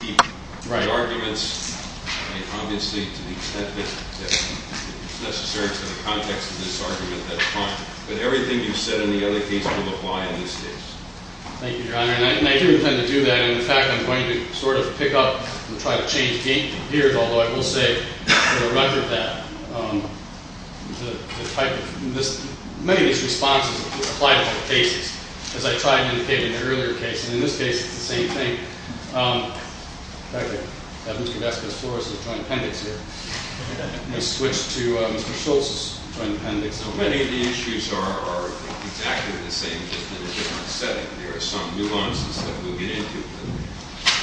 The arguments, obviously, to the extent that it's necessary for the context of this argument, that's fine. But everything you said in the other case will apply in this case. Thank you, Your Honor. And I do intend to do that, and in fact, I'm going to sort of pick up and try to change gears, although I will say, for the record, that many of these responses apply to all cases. As I tried to indicate in the earlier case, and in this case it's the same thing. In fact, I have Mr. Gadeska's florist's joint appendix here. I'm going to switch to Mr. Schultz's joint appendix. Many of the issues are exactly the same, just in a different setting. There are some nuances that we'll get into,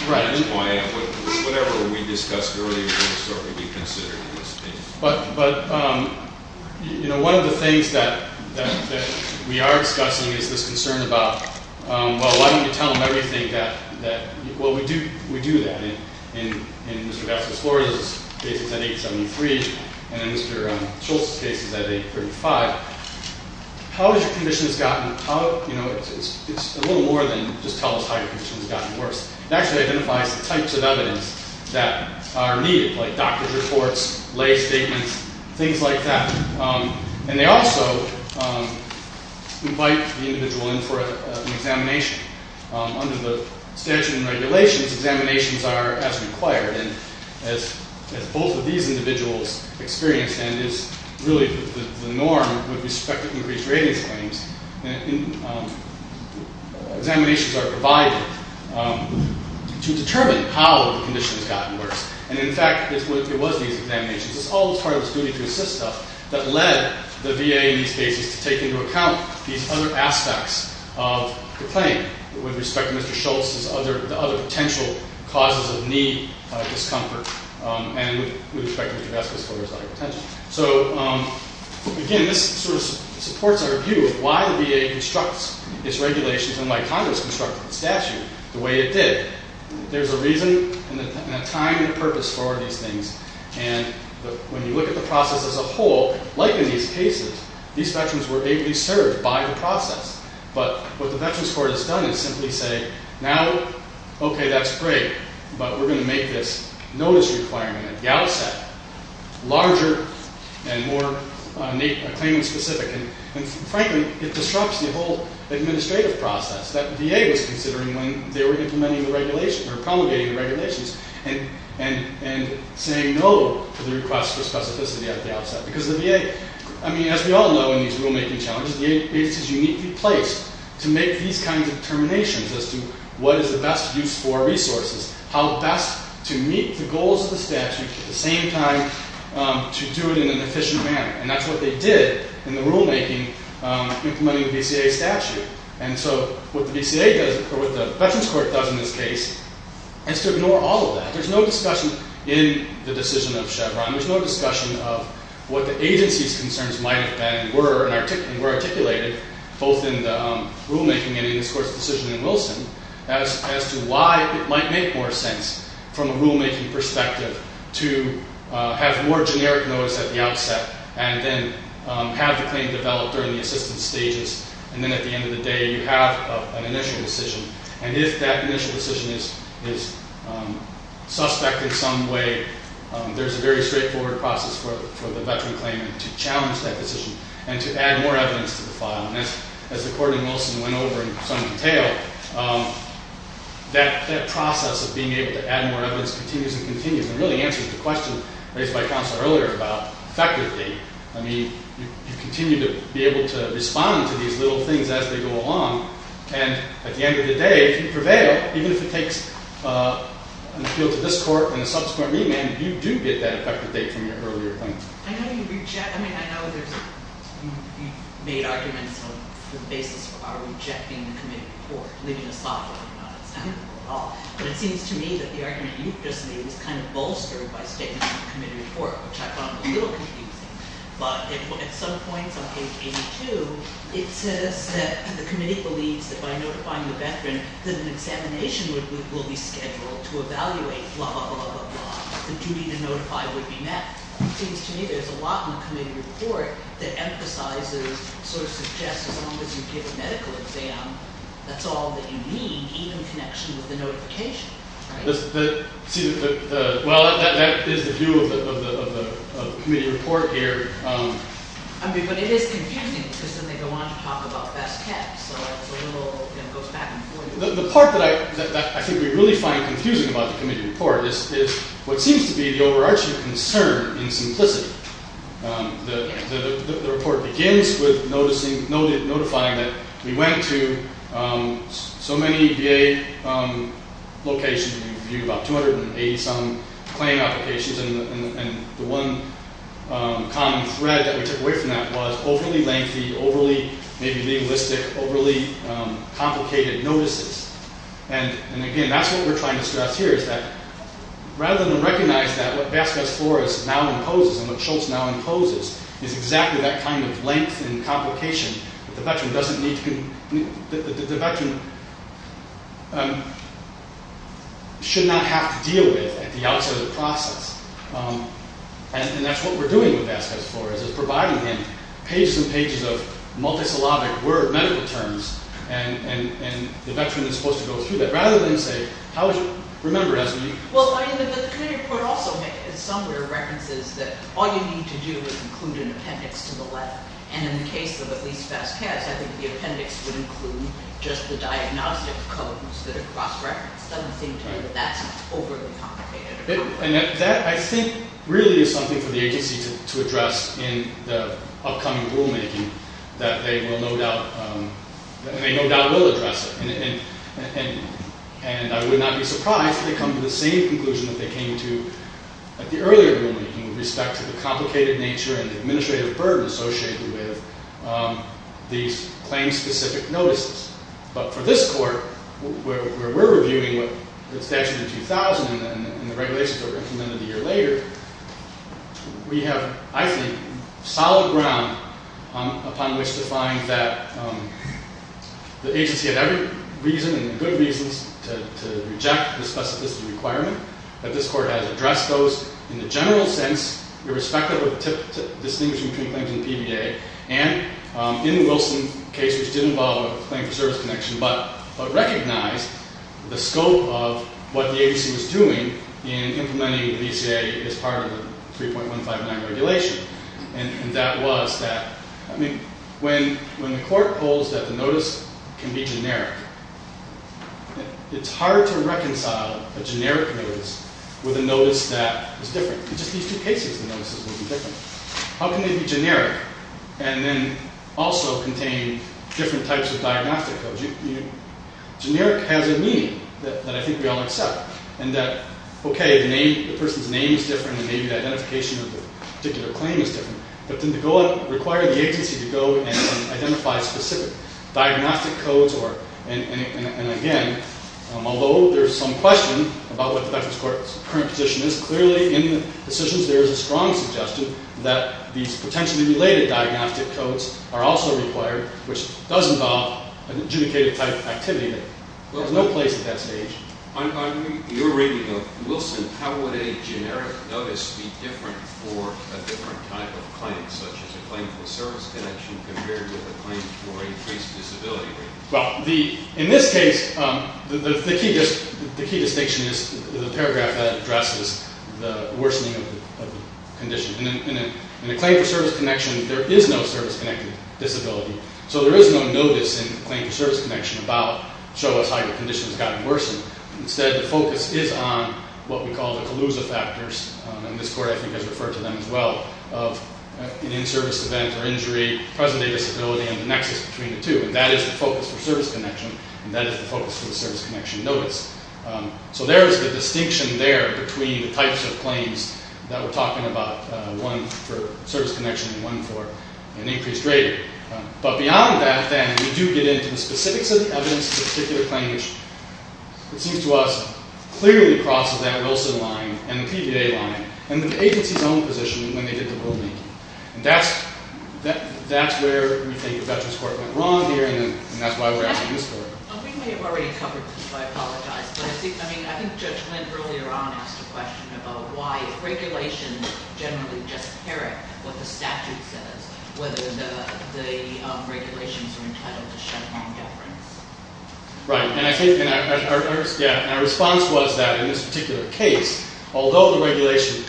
but that's why whatever we discussed earlier will sort of be considered in this case. But, you know, one of the things that we are discussing is this concern about, well, why don't you tell them everything that, well, we do that. In Mr. Gadeska's florist's case it's at 873, and in Mr. Schultz's case it's at 835. How has your condition has gotten, you know, it's a little more than just tell us how your condition has gotten worse. It actually identifies the types of evidence that are needed, like doctor's reports, lay statements, things like that. And they also invite the individual in for an examination. Under the statute and regulations, examinations are as required, and as both of these individuals experienced and is really the norm with respect to increased ratings claims, examinations are provided to determine how the condition has gotten worse. And, in fact, it was these examinations, it's all part of this duty to assist stuff, that led the VA in these cases to take into account these other aspects of the claim with respect to Mr. Schultz's other potential causes of need, discomfort, and with respect to Mr. Gadeska's florist's other potential. So, again, this sort of supports our view of why the VA constructs its regulations, and why Congress constructed the statute the way it did. There's a reason and a time and a purpose for these things. And when you look at the process as a whole, like in these cases, these veterans were ably served by the process. But what the Veterans Court has done is simply say, now, okay, that's great, but we're going to make this notice requirement, the outset, larger and more claimant-specific. And, frankly, it disrupts the whole administrative process that VA was considering when they were implementing the regulations, or promulgating the regulations, and saying no to the request for specificity at the outset. Because the VA, I mean, as we all know in these rulemaking challenges, the agency is uniquely placed to make these kinds of determinations as to what is the best use for resources, how best to meet the goals of the statute, at the same time to do it in an efficient manner. And that's what they did in the rulemaking implementing the VCA statute. And so what the VCA does, or what the Veterans Court does in this case, is to ignore all of that. There's no discussion in the decision of Chevron. There's no discussion of what the agency's concerns might have been and were articulated, both in the rulemaking and in this Court's decision in Wilson, as to why it might make more sense from a rulemaking perspective to have more generic notice at the outset and then have the claim developed during the assistance stages, and then at the end of the day you have an initial decision. And if that initial decision is suspect in some way, there's a very straightforward process for the veteran claimant to challenge that decision and to add more evidence to the file. And as the Court in Wilson went over in some detail, that process of being able to add more evidence continues and continues and really answers the question raised by Counselor earlier about effective date. I mean, you continue to be able to respond to these little things as they go along. And at the end of the day, if you prevail, even if it takes appeal to this Court and a subsequent remand, you do get that effective date from your earlier claimant. I know you reject, I mean, I know there's, you've made arguments for the basis of our rejecting the committee report, leaving us off, but it seems to me that the argument you've just made is kind of bolstered by statements in the committee report, which I found a little confusing. But at some points on page 82, it says that the committee believes that by notifying the veteran that an examination will be scheduled to evaluate, blah, blah, blah, blah, blah, the duty to notify would be met. It seems to me there's a lot in the committee report that emphasizes, sort of suggests as long as you give a medical exam, that's all that you need, even in connection with the notification, right? See, well, that is the view of the committee report here. I mean, but it is contending, because then they go on to talk about best care, so it's a little, you know, it goes back and forth. The part that I think we really find confusing about the committee report is what seems to be the overarching concern in simplicity. The report begins with notifying that we went to so many VA locations and reviewed about 280-some claim applications, and the one common thread that we took away from that was overly lengthy, overly maybe legalistic, overly complicated notices. And again, that's what we're trying to stress here, is that rather than recognize that what Vasquez-Flores now imposes and what Schultz now imposes is exactly that kind of length and complication that the veteran should not have to deal with at the outset of the process. And that's what we're doing with Vasquez-Flores, is providing him pages and pages of multisyllabic word medical terms, and the veteran is supposed to go through that. So rather than say, how would you remember it as unique? Well, I mean, the committee report also somewhere references that all you need to do is include an appendix to the letter, and in the case of at least Vasquez, I think the appendix would include just the diagnostic codes that are cross-referenced. It doesn't seem to me that that's overly complicated. And that, I think, really is something for the agency to address in the upcoming rulemaking, that they will no doubt, and they no doubt will address it. And I would not be surprised if they come to the same conclusion that they came to at the earlier rulemaking with respect to the complicated nature and administrative burden associated with these claim-specific notices. But for this court, where we're reviewing the statute in 2000 and the regulations are implemented a year later, we have, I think, solid ground upon which to find that the agency had every reason and good reasons to reject the specificity requirement, that this court has addressed those in the general sense, irrespective of the distinction between claims in the PBA, and in the Wilson case, which did involve a claim for service connection, but recognized the scope of what the agency was doing in implementing the VCA as part of the 3.159 regulation. And that was that, I mean, when the court holds that the notice can be generic, it's hard to reconcile a generic notice with a notice that is different. In just these two cases, the notices will be different. How can they be generic and then also contain different types of diagnostic codes? Generic has a meaning that I think we all accept, and that, okay, the person's name is different and maybe the identification of the particular claim is different, but then to require the agency to go and identify specific diagnostic codes, and again, although there's some question about what the veteran's current position is, clearly in the decisions there is a strong suggestion that these potentially related diagnostic codes are also required, which does involve an adjudicated type of activity that has no place at that stage. On your reading of Wilson, how would a generic notice be different for a different type of claim, such as a claim for service connection compared with a claim for increased disability? Well, in this case, the key distinction is the paragraph that addresses the worsening of the condition. In a claim for service connection, there is no service-connected disability, so there is no notice in the claim for service connection about, show us how your condition has gotten worse. Instead, the focus is on what we call the collusive factors, and this Court, I think, has referred to them as well, of an in-service event or injury, present-day disability, and the nexus between the two, and that is the focus for service connection, and that is the focus for the service connection notice. So there is the distinction there between the types of claims that we're talking about, one for service connection and one for an increased rating. But beyond that, then, we do get into the specifics of the evidence of a particular claim, which, it seems to us, clearly crosses that Wilson line and the PBA line, and the agency's own position when they did the rulemaking. And that's where we think the Veterans Court went wrong here, and that's why we're asking this Court. We may have already covered this, so I apologize, but I think Judge Lind earlier on asked a question about why regulations generally just parrot what the statute says, whether the regulations are entitled to shut down veterans. Right, and I think our response was that in this particular case, although the regulation,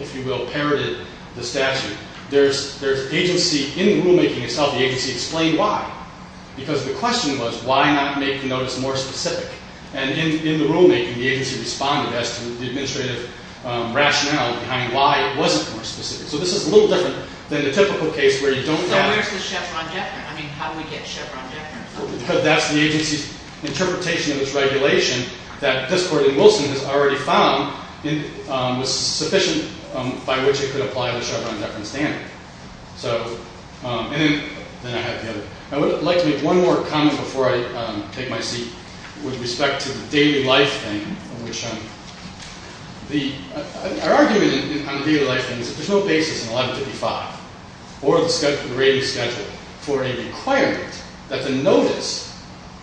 if you will, parroted the statute, there's agency in the rulemaking itself, the agency explained why, because the question was, why not make the notice more specific? And in the rulemaking, the agency responded as to the administrative rationale behind why it wasn't more specific. So this is a little different than the typical case where you don't have— So where's the Chevron deference? I mean, how do we get Chevron deference? Because that's the agency's interpretation of its regulation, that this Court in Wilson has already found was sufficient by which it could apply the Chevron deference standard. So, and then I have the other. I would like to make one more comment before I take my seat with respect to the daily life thing, Our argument on the daily life thing is that there's no basis in 1155 or the rating schedule for a requirement that the notice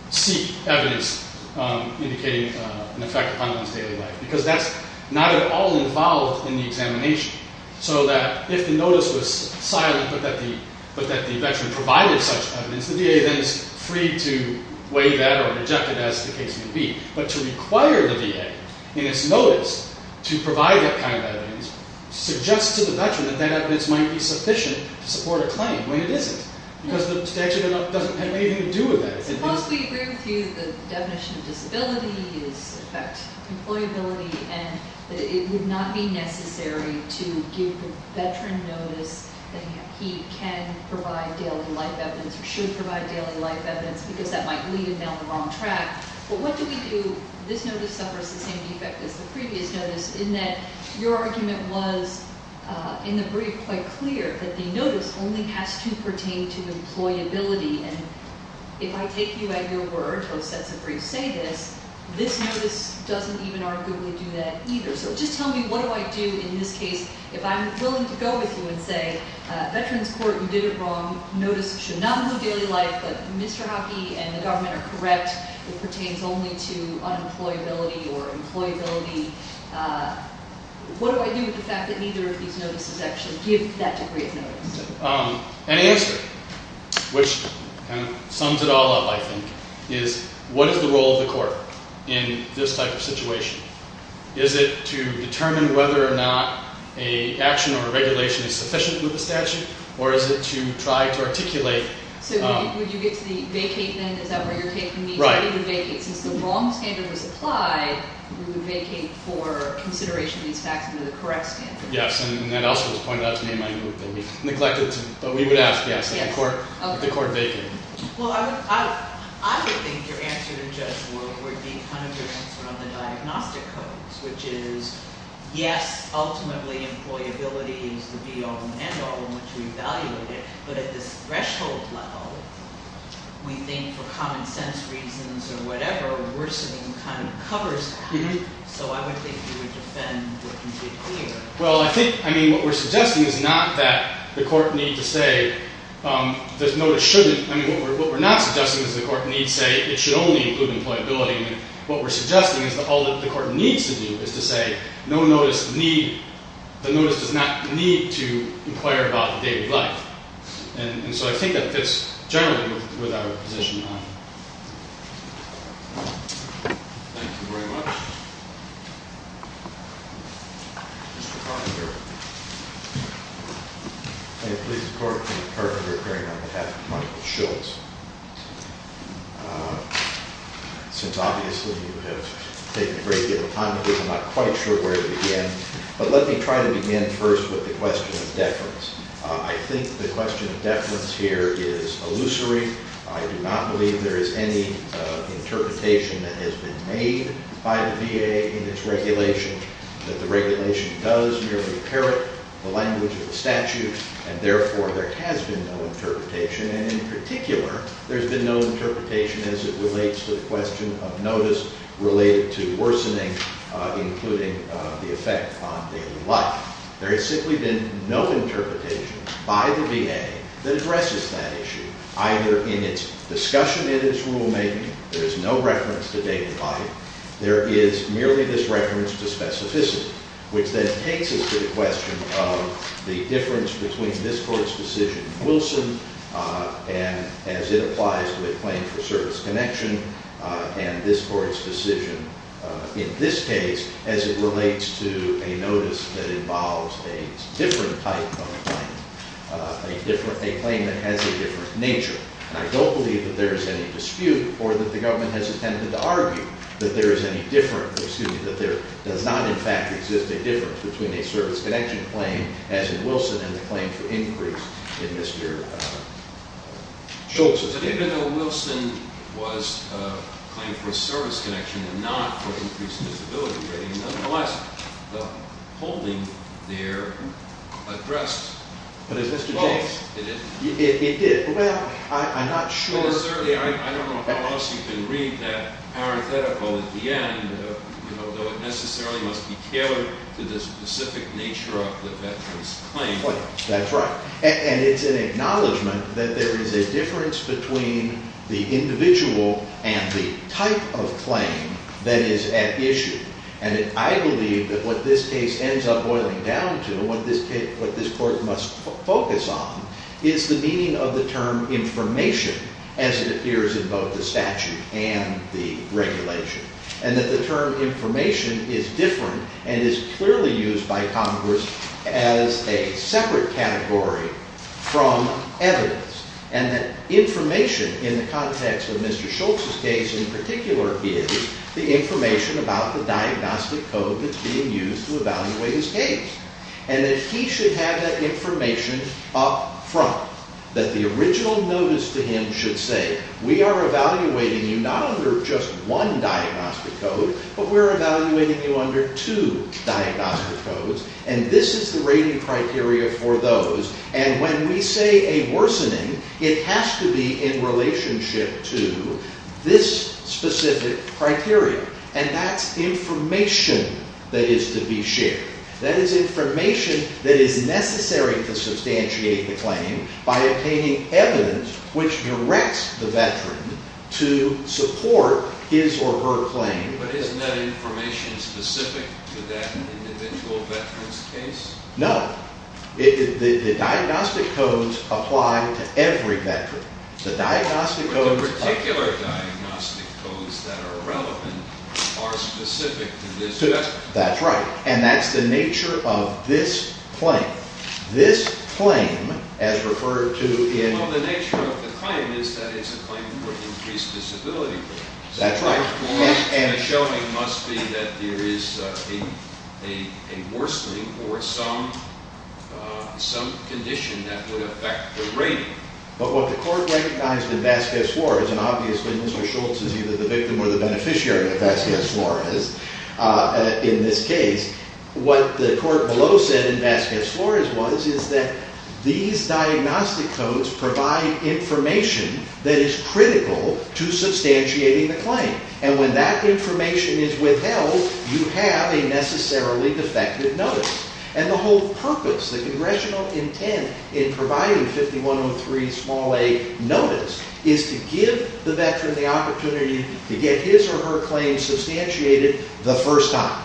seek evidence indicating an effect upon one's daily life, because that's not at all involved in the examination. So that if the notice was silent but that the veteran provided such evidence, the VA then is free to weigh that or reject it as the case may be. But to require the VA in its notice to provide that kind of evidence suggests to the veteran that that evidence might be sufficient to support a claim when it isn't. Because it actually doesn't have anything to do with that. Suppose we agree with you that the definition of disability is an effect of employability and that it would not be necessary to give the veteran notice that he can provide daily life evidence or should provide daily life evidence because that might lead him down the wrong track. But what do we do? This notice suffers the same defect as the previous notice in that your argument was in the brief quite clear that the notice only has to pertain to employability. And if I take you at your word, those sets of briefs say this, this notice doesn't even arguably do that either. So just tell me what do I do in this case if I'm willing to go with you and say, Veterans Court, you did it wrong. Notice should not move daily life, but Mr. Hockey and the government are correct. It pertains only to unemployability or employability. What do I do with the fact that neither of these notices actually give that degree of notice? An answer, which kind of sums it all up, I think, is what is the role of the court in this type of situation? Is it to determine whether or not an action or a regulation is sufficient with the statute? Or is it to try to articulate? So would you get to the vacate then? Is that where you're taking me? Right. The vacate. Since the wrong standard was applied, we would vacate for consideration of these facts under the correct standard. Yes. And that also was pointed out to me in my group that we neglected to, but we would ask, yes, that the court vacate. Well, I would think your answer to Judge Ward would be kind of your answer on the diagnostic codes, which is, yes, ultimately employability is the be-all and end-all in which we evaluate it. But at this threshold level, we think for common sense reasons or whatever, worsening kind of covers that. So I would think you would defend what you did here. Well, I think, I mean, what we're suggesting is not that the court need to say this notice shouldn't. I mean, what we're not suggesting is the court need to say it should only include employability. What we're suggesting is that all that the court needs to do is to say no notice need, the notice does not need to inquire about the day of life. And so I think that fits generally with our position on it. Thank you very much. Thank you. Mr. Fonagher. May it please the court, for the record, I'm appearing on behalf of Michael Schultz. Since obviously you have taken a great deal of time with me, I'm not quite sure where to begin. But let me try to begin first with the question of deference. I think the question of deference here is illusory. I do not believe there is any interpretation that has been made by the VA in its regulation that the regulation does merely inherit the language of the statute. And therefore, there has been no interpretation. And in particular, there's been no interpretation as it relates to the question of notice related to worsening, including the effect on daily life. There has simply been no interpretation by the VA that addresses that issue, either in its discussion in its rulemaking. There is no reference to day to life. There is merely this reference to specificity, which then takes us to the question of the difference between this court's decision in Wilson, and as it applies to a claim for service connection, and this court's decision in this case, as it relates to a notice that involves a different type of claim, a claim that has a different nature. And I don't believe that there is any dispute or that the government has attempted to argue that there is any difference, excuse me, that there does not, in fact, exist a difference between a service connection claim, as in Wilson, and the claim for increase in Mr. Schultz's opinion. Even though Wilson was claimed for service connection and not for increased disability rating, nonetheless, the holding there addressed both. It did. It did. Well, I'm not sure. Well, certainly, I don't know how else you can read that parenthetical at the end, though it necessarily must be tailored to the specific nature of the veteran's claim. That's right. And it's an acknowledgment that there is a difference between the individual and the type of claim that is at issue. And I believe that what this case ends up boiling down to, what this court must focus on, is the meaning of the term information, as it appears in both the statute and the regulation. And that the term information is different and is clearly used by Congress as a separate category from evidence. And that information in the context of Mr. Schultz's case, in particular, is the information about the diagnostic code that's being used to evaluate his case. And that he should have that information up front. That the original notice to him should say, we are evaluating you not under just one diagnostic code, but we're evaluating you under two diagnostic codes. And this is the rating criteria for those. And when we say a worsening, it has to be in relationship to this specific criteria. And that's information that is to be shared. That is information that is necessary to substantiate the claim by obtaining evidence which directs the veteran to support his or her claim. But isn't that information specific to that individual veteran's case? No. The diagnostic codes apply to every veteran. The diagnostic codes- But the particular diagnostic codes that are relevant are specific to this veteran. That's right. And that's the nature of this claim. This claim, as referred to in- Well, the nature of the claim is that it's a claim for increased disability. That's right. The showing must be that there is a worsening or some condition that would affect the rating. But what the court recognized in Vasquez-Flores, and obviously Ms. O'Shultz is either the victim or the beneficiary of Vasquez-Flores in this case. What the court below said in Vasquez-Flores is that these diagnostic codes provide information that is critical to substantiating the claim. And when that information is withheld, you have a necessarily defective notice. And the whole purpose, the congressional intent in providing 5103-a notice is to give the veteran the opportunity to get his or her claim substantiated the first time.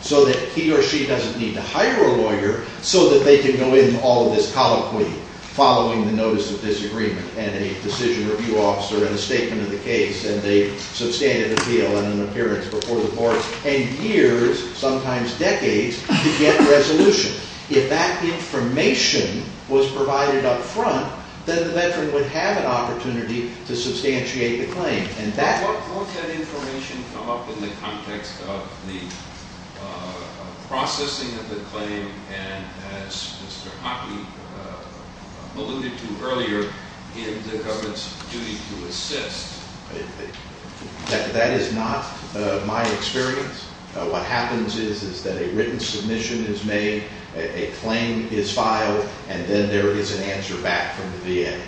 So that he or she doesn't need to hire a lawyer so that they can go in all of this colloquy following the notice of disagreement. And a decision review officer and a statement of the case and a substantive appeal and an appearance before the court. And years, sometimes decades, to get resolution. If that information was provided up front, then the veteran would have an opportunity to substantiate the claim. How does that information come up in the context of the processing of the claim? And as Mr. Hoppe alluded to earlier, in the government's duty to assist. That is not my experience. What happens is that a written submission is made, a claim is filed, and then there is an answer back from the VA.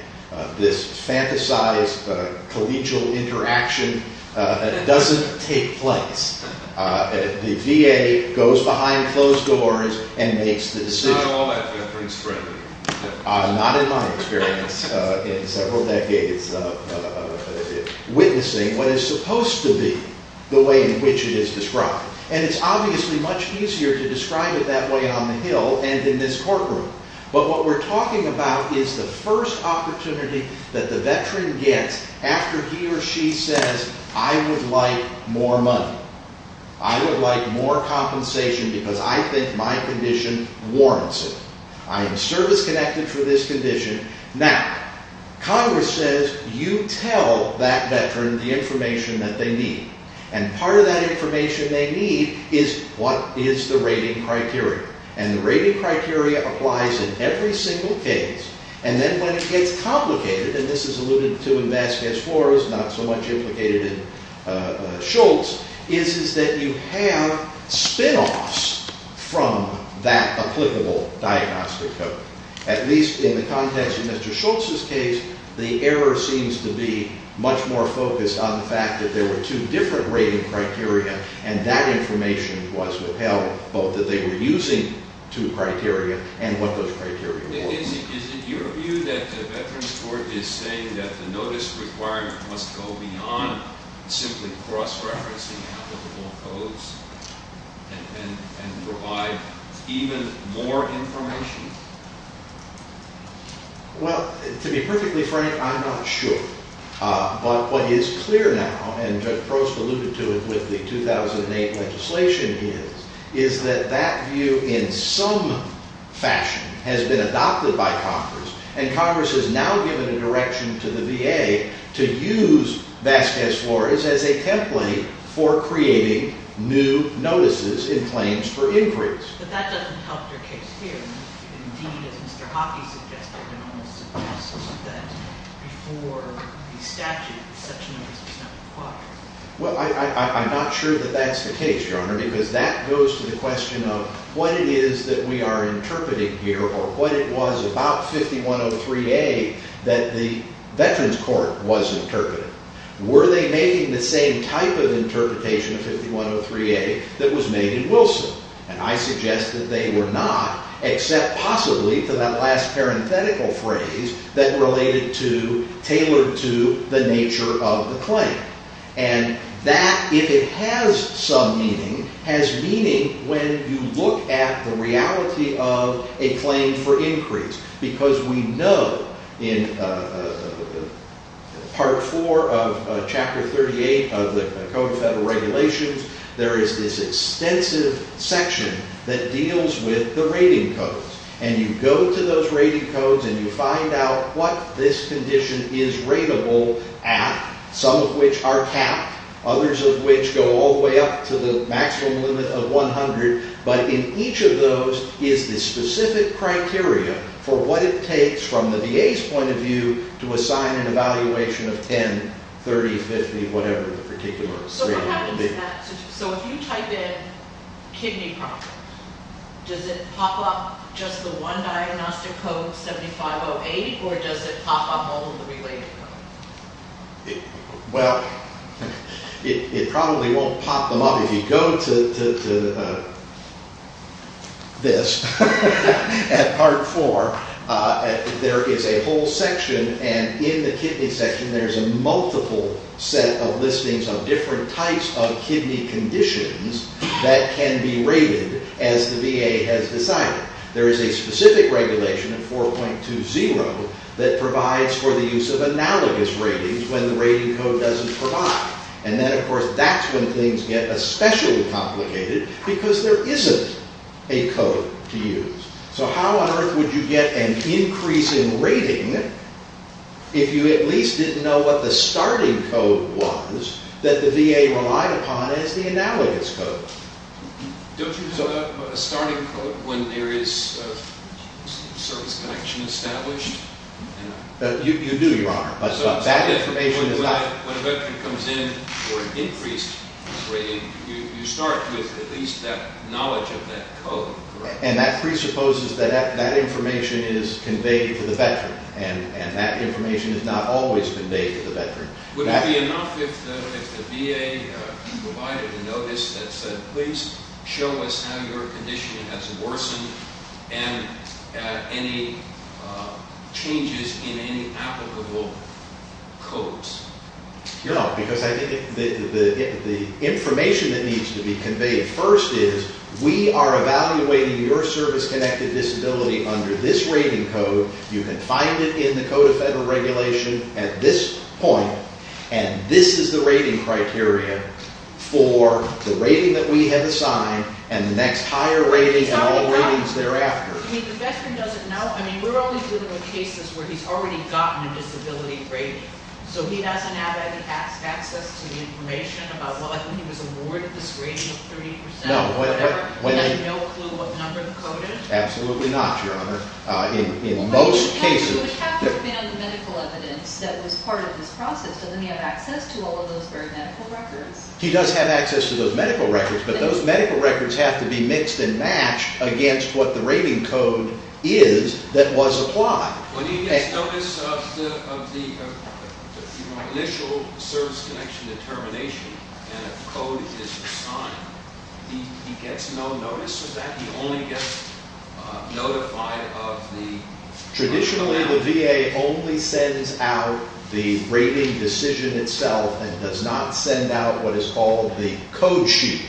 This fantasized collegial interaction doesn't take place. The VA goes behind closed doors and makes the decision. Not in all that veteran's friendly. Not in my experience. In several decades of witnessing what is supposed to be the way in which it is described. And it's obviously much easier to describe it that way on the Hill and in this courtroom. But what we're talking about is the first opportunity that the veteran gets after he or she says, I would like more money. I would like more compensation because I think my condition warrants it. I am service connected for this condition. Now, Congress says, you tell that veteran the information that they need. And part of that information they need is, what is the rating criteria? And the rating criteria applies in every single case. And then when it gets complicated, and this is alluded to in Vasquez IV, it's not so much implicated in Schultz, is that you have spinoffs from that applicable diagnostic code. At least in the context of Mr. Schultz's case, the error seems to be much more focused on the fact that there were two different rating criteria and that information was withheld, both that they were using two criteria and what those criteria were. Is it your view that the Veterans Court is saying that the notice requirement must go beyond simply cross-referencing applicable codes and provide even more information? Well, to be perfectly frank, I'm not sure. But what is clear now, and Judge Prost alluded to it with the 2008 legislation, is that that view, in some fashion, has been adopted by Congress. And Congress has now given a direction to the VA to use Vasquez IV as a template for creating new notices in claims for inquiries. But that doesn't help your case here. Indeed, as Mr. Hoppe suggested, the notice suggests that before the statute, such notice was not required. Well, I'm not sure that that's the case, Your Honor, because that goes to the question of what it is that we are interpreting here or what it was about 5103A that the Veterans Court was interpreting. Were they making the same type of interpretation of 5103A that was made in Wilson? And I suggest that they were not, except possibly for that last parenthetical phrase that related to, tailored to, the nature of the claim. And that, if it has some meaning, has meaning when you look at the reality of a claim for increase. Because we know in Part IV of Chapter 38 of the Code of Federal Regulations, there is this extensive section that deals with the rating codes. And you go to those rating codes and you find out what this condition is rateable at, some of which are capped, others of which go all the way up to the maximum limit of 100. But in each of those is the specific criteria for what it takes, from the VA's point of view, to assign an evaluation of 10, 30, 50, whatever the particular rating would be. So if you type in kidney problem, does it pop up just the one diagnostic code, 7508, or does it pop up all of the related codes? Well, it probably won't pop them up if you go to this at Part IV. There is a whole section, and in the kidney section there is a multiple set of listings of different types of kidney conditions that can be rated as the VA has decided. There is a specific regulation in 4.20 that provides for the use of analogous ratings when the rating code doesn't provide. And then, of course, that's when things get especially complicated, because there isn't a code to use. So how on earth would you get an increase in rating if you at least didn't know what the starting code was that the VA relied upon as the analogous code? Don't you have a starting code when there is service connection established? You do, Your Honor. So when a veteran comes in for an increased rating, you start with at least that knowledge of that code, correct? And that presupposes that that information is conveyed to the veteran, Would it be enough if the VA provided a notice that said, please show us how your condition has worsened and any changes in any applicable codes? No, because I think the information that needs to be conveyed first is, we are evaluating your service-connected disability under this rating code. You can find it in the Code of Federal Regulation at this point, and this is the rating criteria for the rating that we have assigned and the next higher rating and all ratings thereafter. So the veteran doesn't know? I mean, we're only dealing with cases where he's already gotten a disability rating. So he doesn't have access to the information about, well, I think he was awarded this rating of 30% or whatever. He has no clue what number the code is? Absolutely not, Your Honor. But he would have to have been on the medical evidence that was part of this process. Doesn't he have access to all of those medical records? He does have access to those medical records, but those medical records have to be mixed and matched against what the rating code is that was applied. When he gets notice of the initial service-connection determination and a code is assigned, he gets no notice of that? He only gets notified of the original amount? Traditionally, the VA only sends out the rating decision itself and does not send out what is called the code sheet,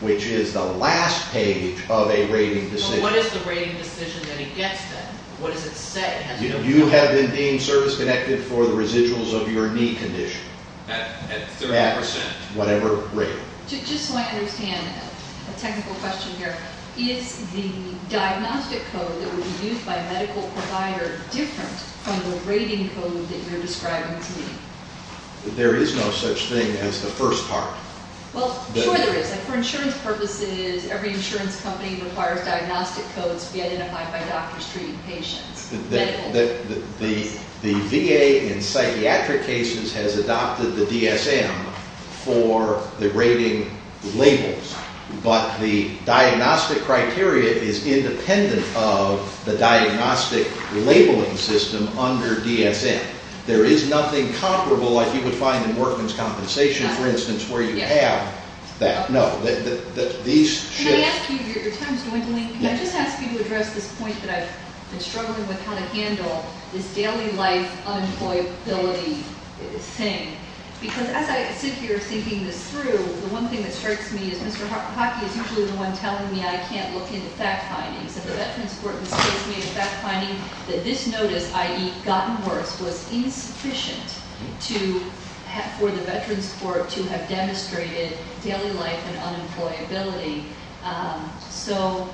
which is the last page of a rating decision. So what is the rating decision that he gets then? What does it say? You have been deemed service-connected for the residuals of your knee condition. At 30%? At whatever rating. Just so I understand, a technical question here. Is the diagnostic code that would be used by a medical provider different from the rating code that you're describing to me? There is no such thing as the first part. Well, sure there is. For insurance purposes, every insurance company requires diagnostic codes to be identified by doctors treating patients. The VA in psychiatric cases has adopted the DSM for the rating labels, but the diagnostic criteria is independent of the diagnostic labeling system under DSM. There is nothing comparable like you would find in workman's compensation, for instance, where you have that. Can I ask you, your time is dwindling. Can I just ask you to address this point that I've been struggling with how to handle this daily life unemployability thing? Because as I sit here thinking this through, the one thing that strikes me is Mr. Hockey is usually the one telling me I can't look into fact findings, and the Veterans Court has placed me in fact finding that this notice, i.e. gotten worse, was insufficient for the Veterans Court to have demonstrated daily life and unemployability. So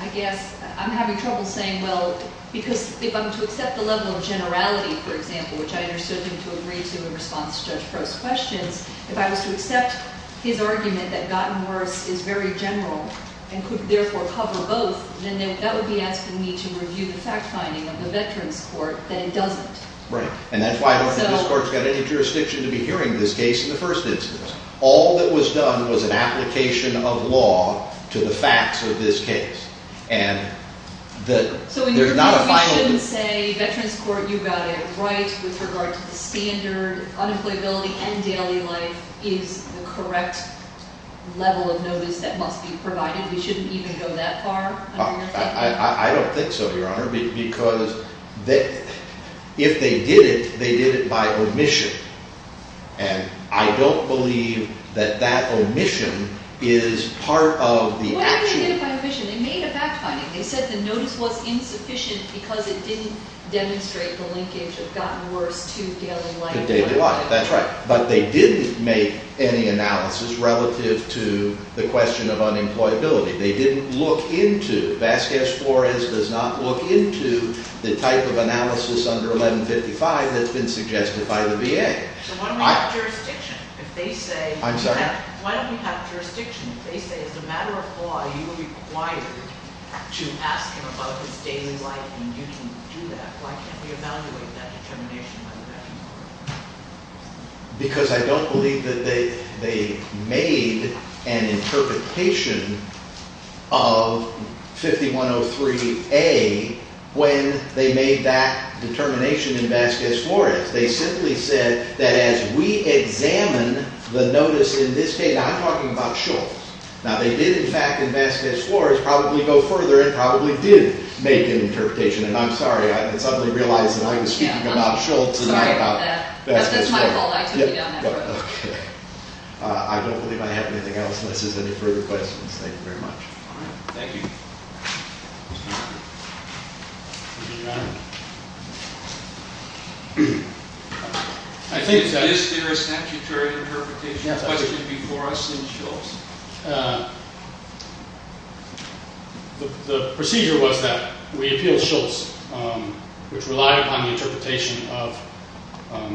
I guess I'm having trouble saying, well, because if I'm to accept the level of generality, for example, which I understood him to agree to in response to Judge Frost's questions, if I was to accept his argument that gotten worse is very general and could therefore cover both, then that would be asking me to review the fact finding of the Veterans Court that it doesn't. Right. And that's why I don't think this Court's got any jurisdiction to be hearing this case in the first instance. All that was done was an application of law to the facts of this case. So we shouldn't say Veterans Court, you got it right with regard to the standard, unemployability and daily life is the correct level of notice that must be provided? We shouldn't even go that far? I don't think so, Your Honor, because if they did it, they did it by omission. And I don't believe that that omission is part of the action. Well, they didn't do it by omission. They made a fact finding. They said the notice was insufficient because it didn't demonstrate the linkage of gotten worse to daily life. To daily life, that's right. But they didn't make any analysis relative to the question of unemployability. They didn't look into it. Judge Flores does not look into the type of analysis under 1155 that's been suggested by the VA. So why don't we have jurisdiction? I'm sorry? Why don't we have jurisdiction if they say it's a matter of law, you are required to ask him about his daily life and you can do that? Why can't we evaluate that determination by the Veterans Court? Because I don't believe that they made an interpretation of 5103A when they made that determination in Vasquez-Flores. They simply said that as we examine the notice in this case, I'm talking about Schultz. Now, they did, in fact, in Vasquez-Flores probably go further and probably did make an interpretation. And I'm sorry. I suddenly realized that I was speaking about Schultz and not about Vasquez-Flores. That's my fault. I took you on that road. Okay. I don't believe I have anything else unless there's any further questions. Thank you very much. All right. Thank you. Is there a statutory interpretation question before us in Schultz? The procedure was that we appealed Schultz, which relied upon the interpretation of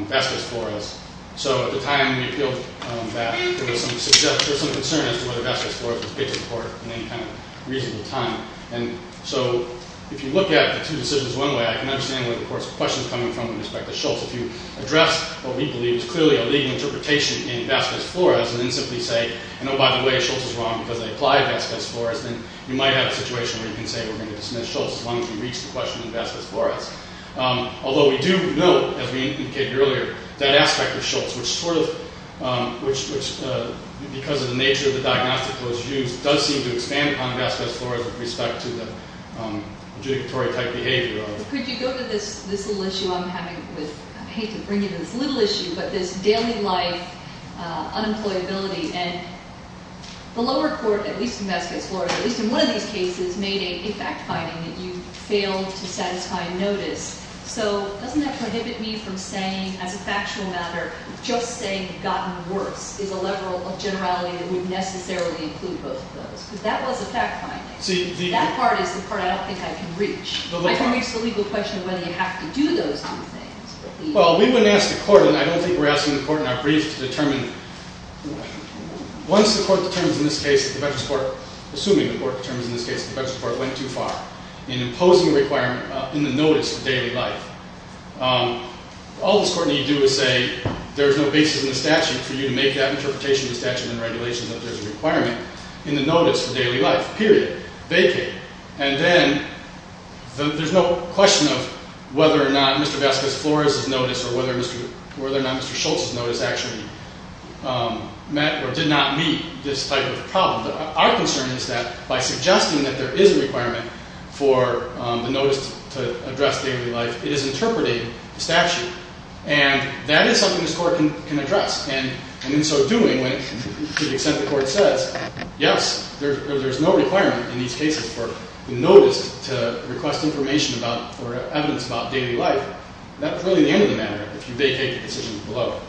Vasquez-Flores. So at the time we appealed that, there was some concern as to whether Vasquez-Flores was picked in court in any kind of reasonable time. And so if you look at the two decisions one way, I can understand where the court's question is coming from with respect to Schultz. If you address what we believe is clearly a legal interpretation in Vasquez-Flores and then simply say, oh, by the way, Schultz is wrong because they applied Vasquez-Flores, then you might have a situation where you can say we're going to dismiss Schultz as long as we reach the question in Vasquez-Flores. Although we do note, as we indicated earlier, that aspect of Schultz, which sort of – which because of the nature of the diagnostic was used, does seem to expand upon Vasquez-Flores with respect to the judicatory type behavior. Could you go to this little issue I'm having with – I hate to bring you this little issue, but this daily life unemployability. And the lower court, at least in Vasquez-Flores, at least in one of these cases, made a fact-finding that you failed to satisfy notice. So doesn't that prohibit me from saying, as a factual matter, just saying gotten worse is a level of generality that would necessarily include both of those? Because that was a fact-finding. That part is the part I don't think I can reach. I can reach the legal question of whether you have to do those kind of things. Well, we wouldn't ask the court, and I don't think we're asking the court in our brief to determine – once the court determines in this case that the veteran's court – assuming the court determines in this case that the veteran's court went too far in imposing a requirement in the notice of daily life, all this court need do is say there's no basis in the statute for you to make that interpretation of the statute and regulations that there's a requirement in the notice of daily life, period, vacant. And then there's no question of whether or not Mr. Vasquez-Flores' notice or whether or not Mr. Schultz's notice actually met or did not meet this type of problem. Our concern is that by suggesting that there is a requirement for the notice to address daily life, it is interpreting the statute. And that is something this court can address. And in so doing, to the extent the court says, yes, there's no requirement in these cases for the notice to request information about or evidence about daily life, that's really the end of the matter if you vacate the decision below.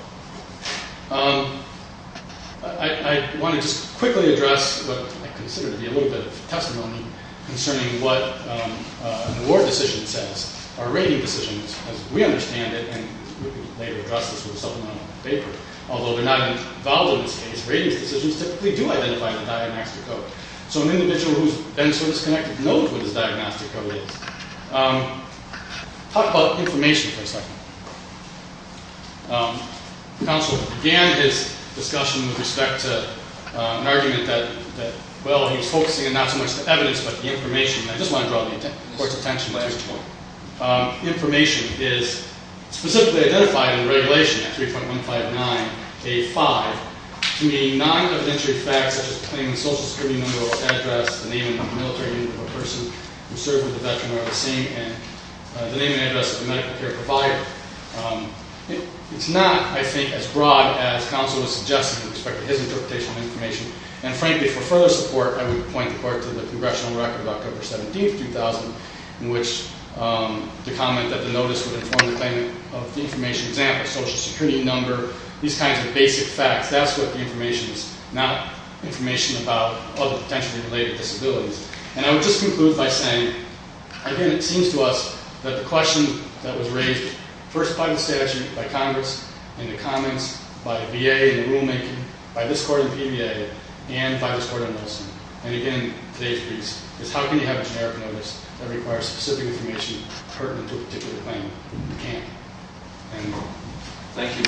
I want to just quickly address what I consider to be a little bit of testimony concerning what an award decision says. Our rating decisions, as we understand it, and we'll later address this with a supplemental paper, although they're not involved in this case, ratings decisions typically do identify the diagnostic code. So an individual who's been service-connected knows what his diagnostic code is. Talk about information for a second. Counsel began his discussion with respect to an argument that, well, he was focusing on not so much the evidence but the information, and I just want to draw the court's attention to this point. Information is specifically identified in Regulation 3.159A5 to be non-evidentiary facts, such as claiming the social security number of address, the name and military unit of a person who served with the veteran or the same, and the name and address of the medical care provider. It's not, I think, as broad as counsel was suggesting with respect to his interpretation of information. And frankly, for further support, I would point the court to the Congressional Record of October 17, 2000, in which the comment that the notice would inform the claimant of the information, for example, social security number, these kinds of basic facts, that's what the information is, not information about other potentially related disabilities. And I would just conclude by saying, again, it seems to us that the question that was raised, first by the statute, by Congress, in the comments, by VA in the rulemaking, by this court in the PBA, and by this court in Wilson, and again in today's case, is how can you have a generic notice that requires specific information pertinent to a particular claim? You can't. Thank you.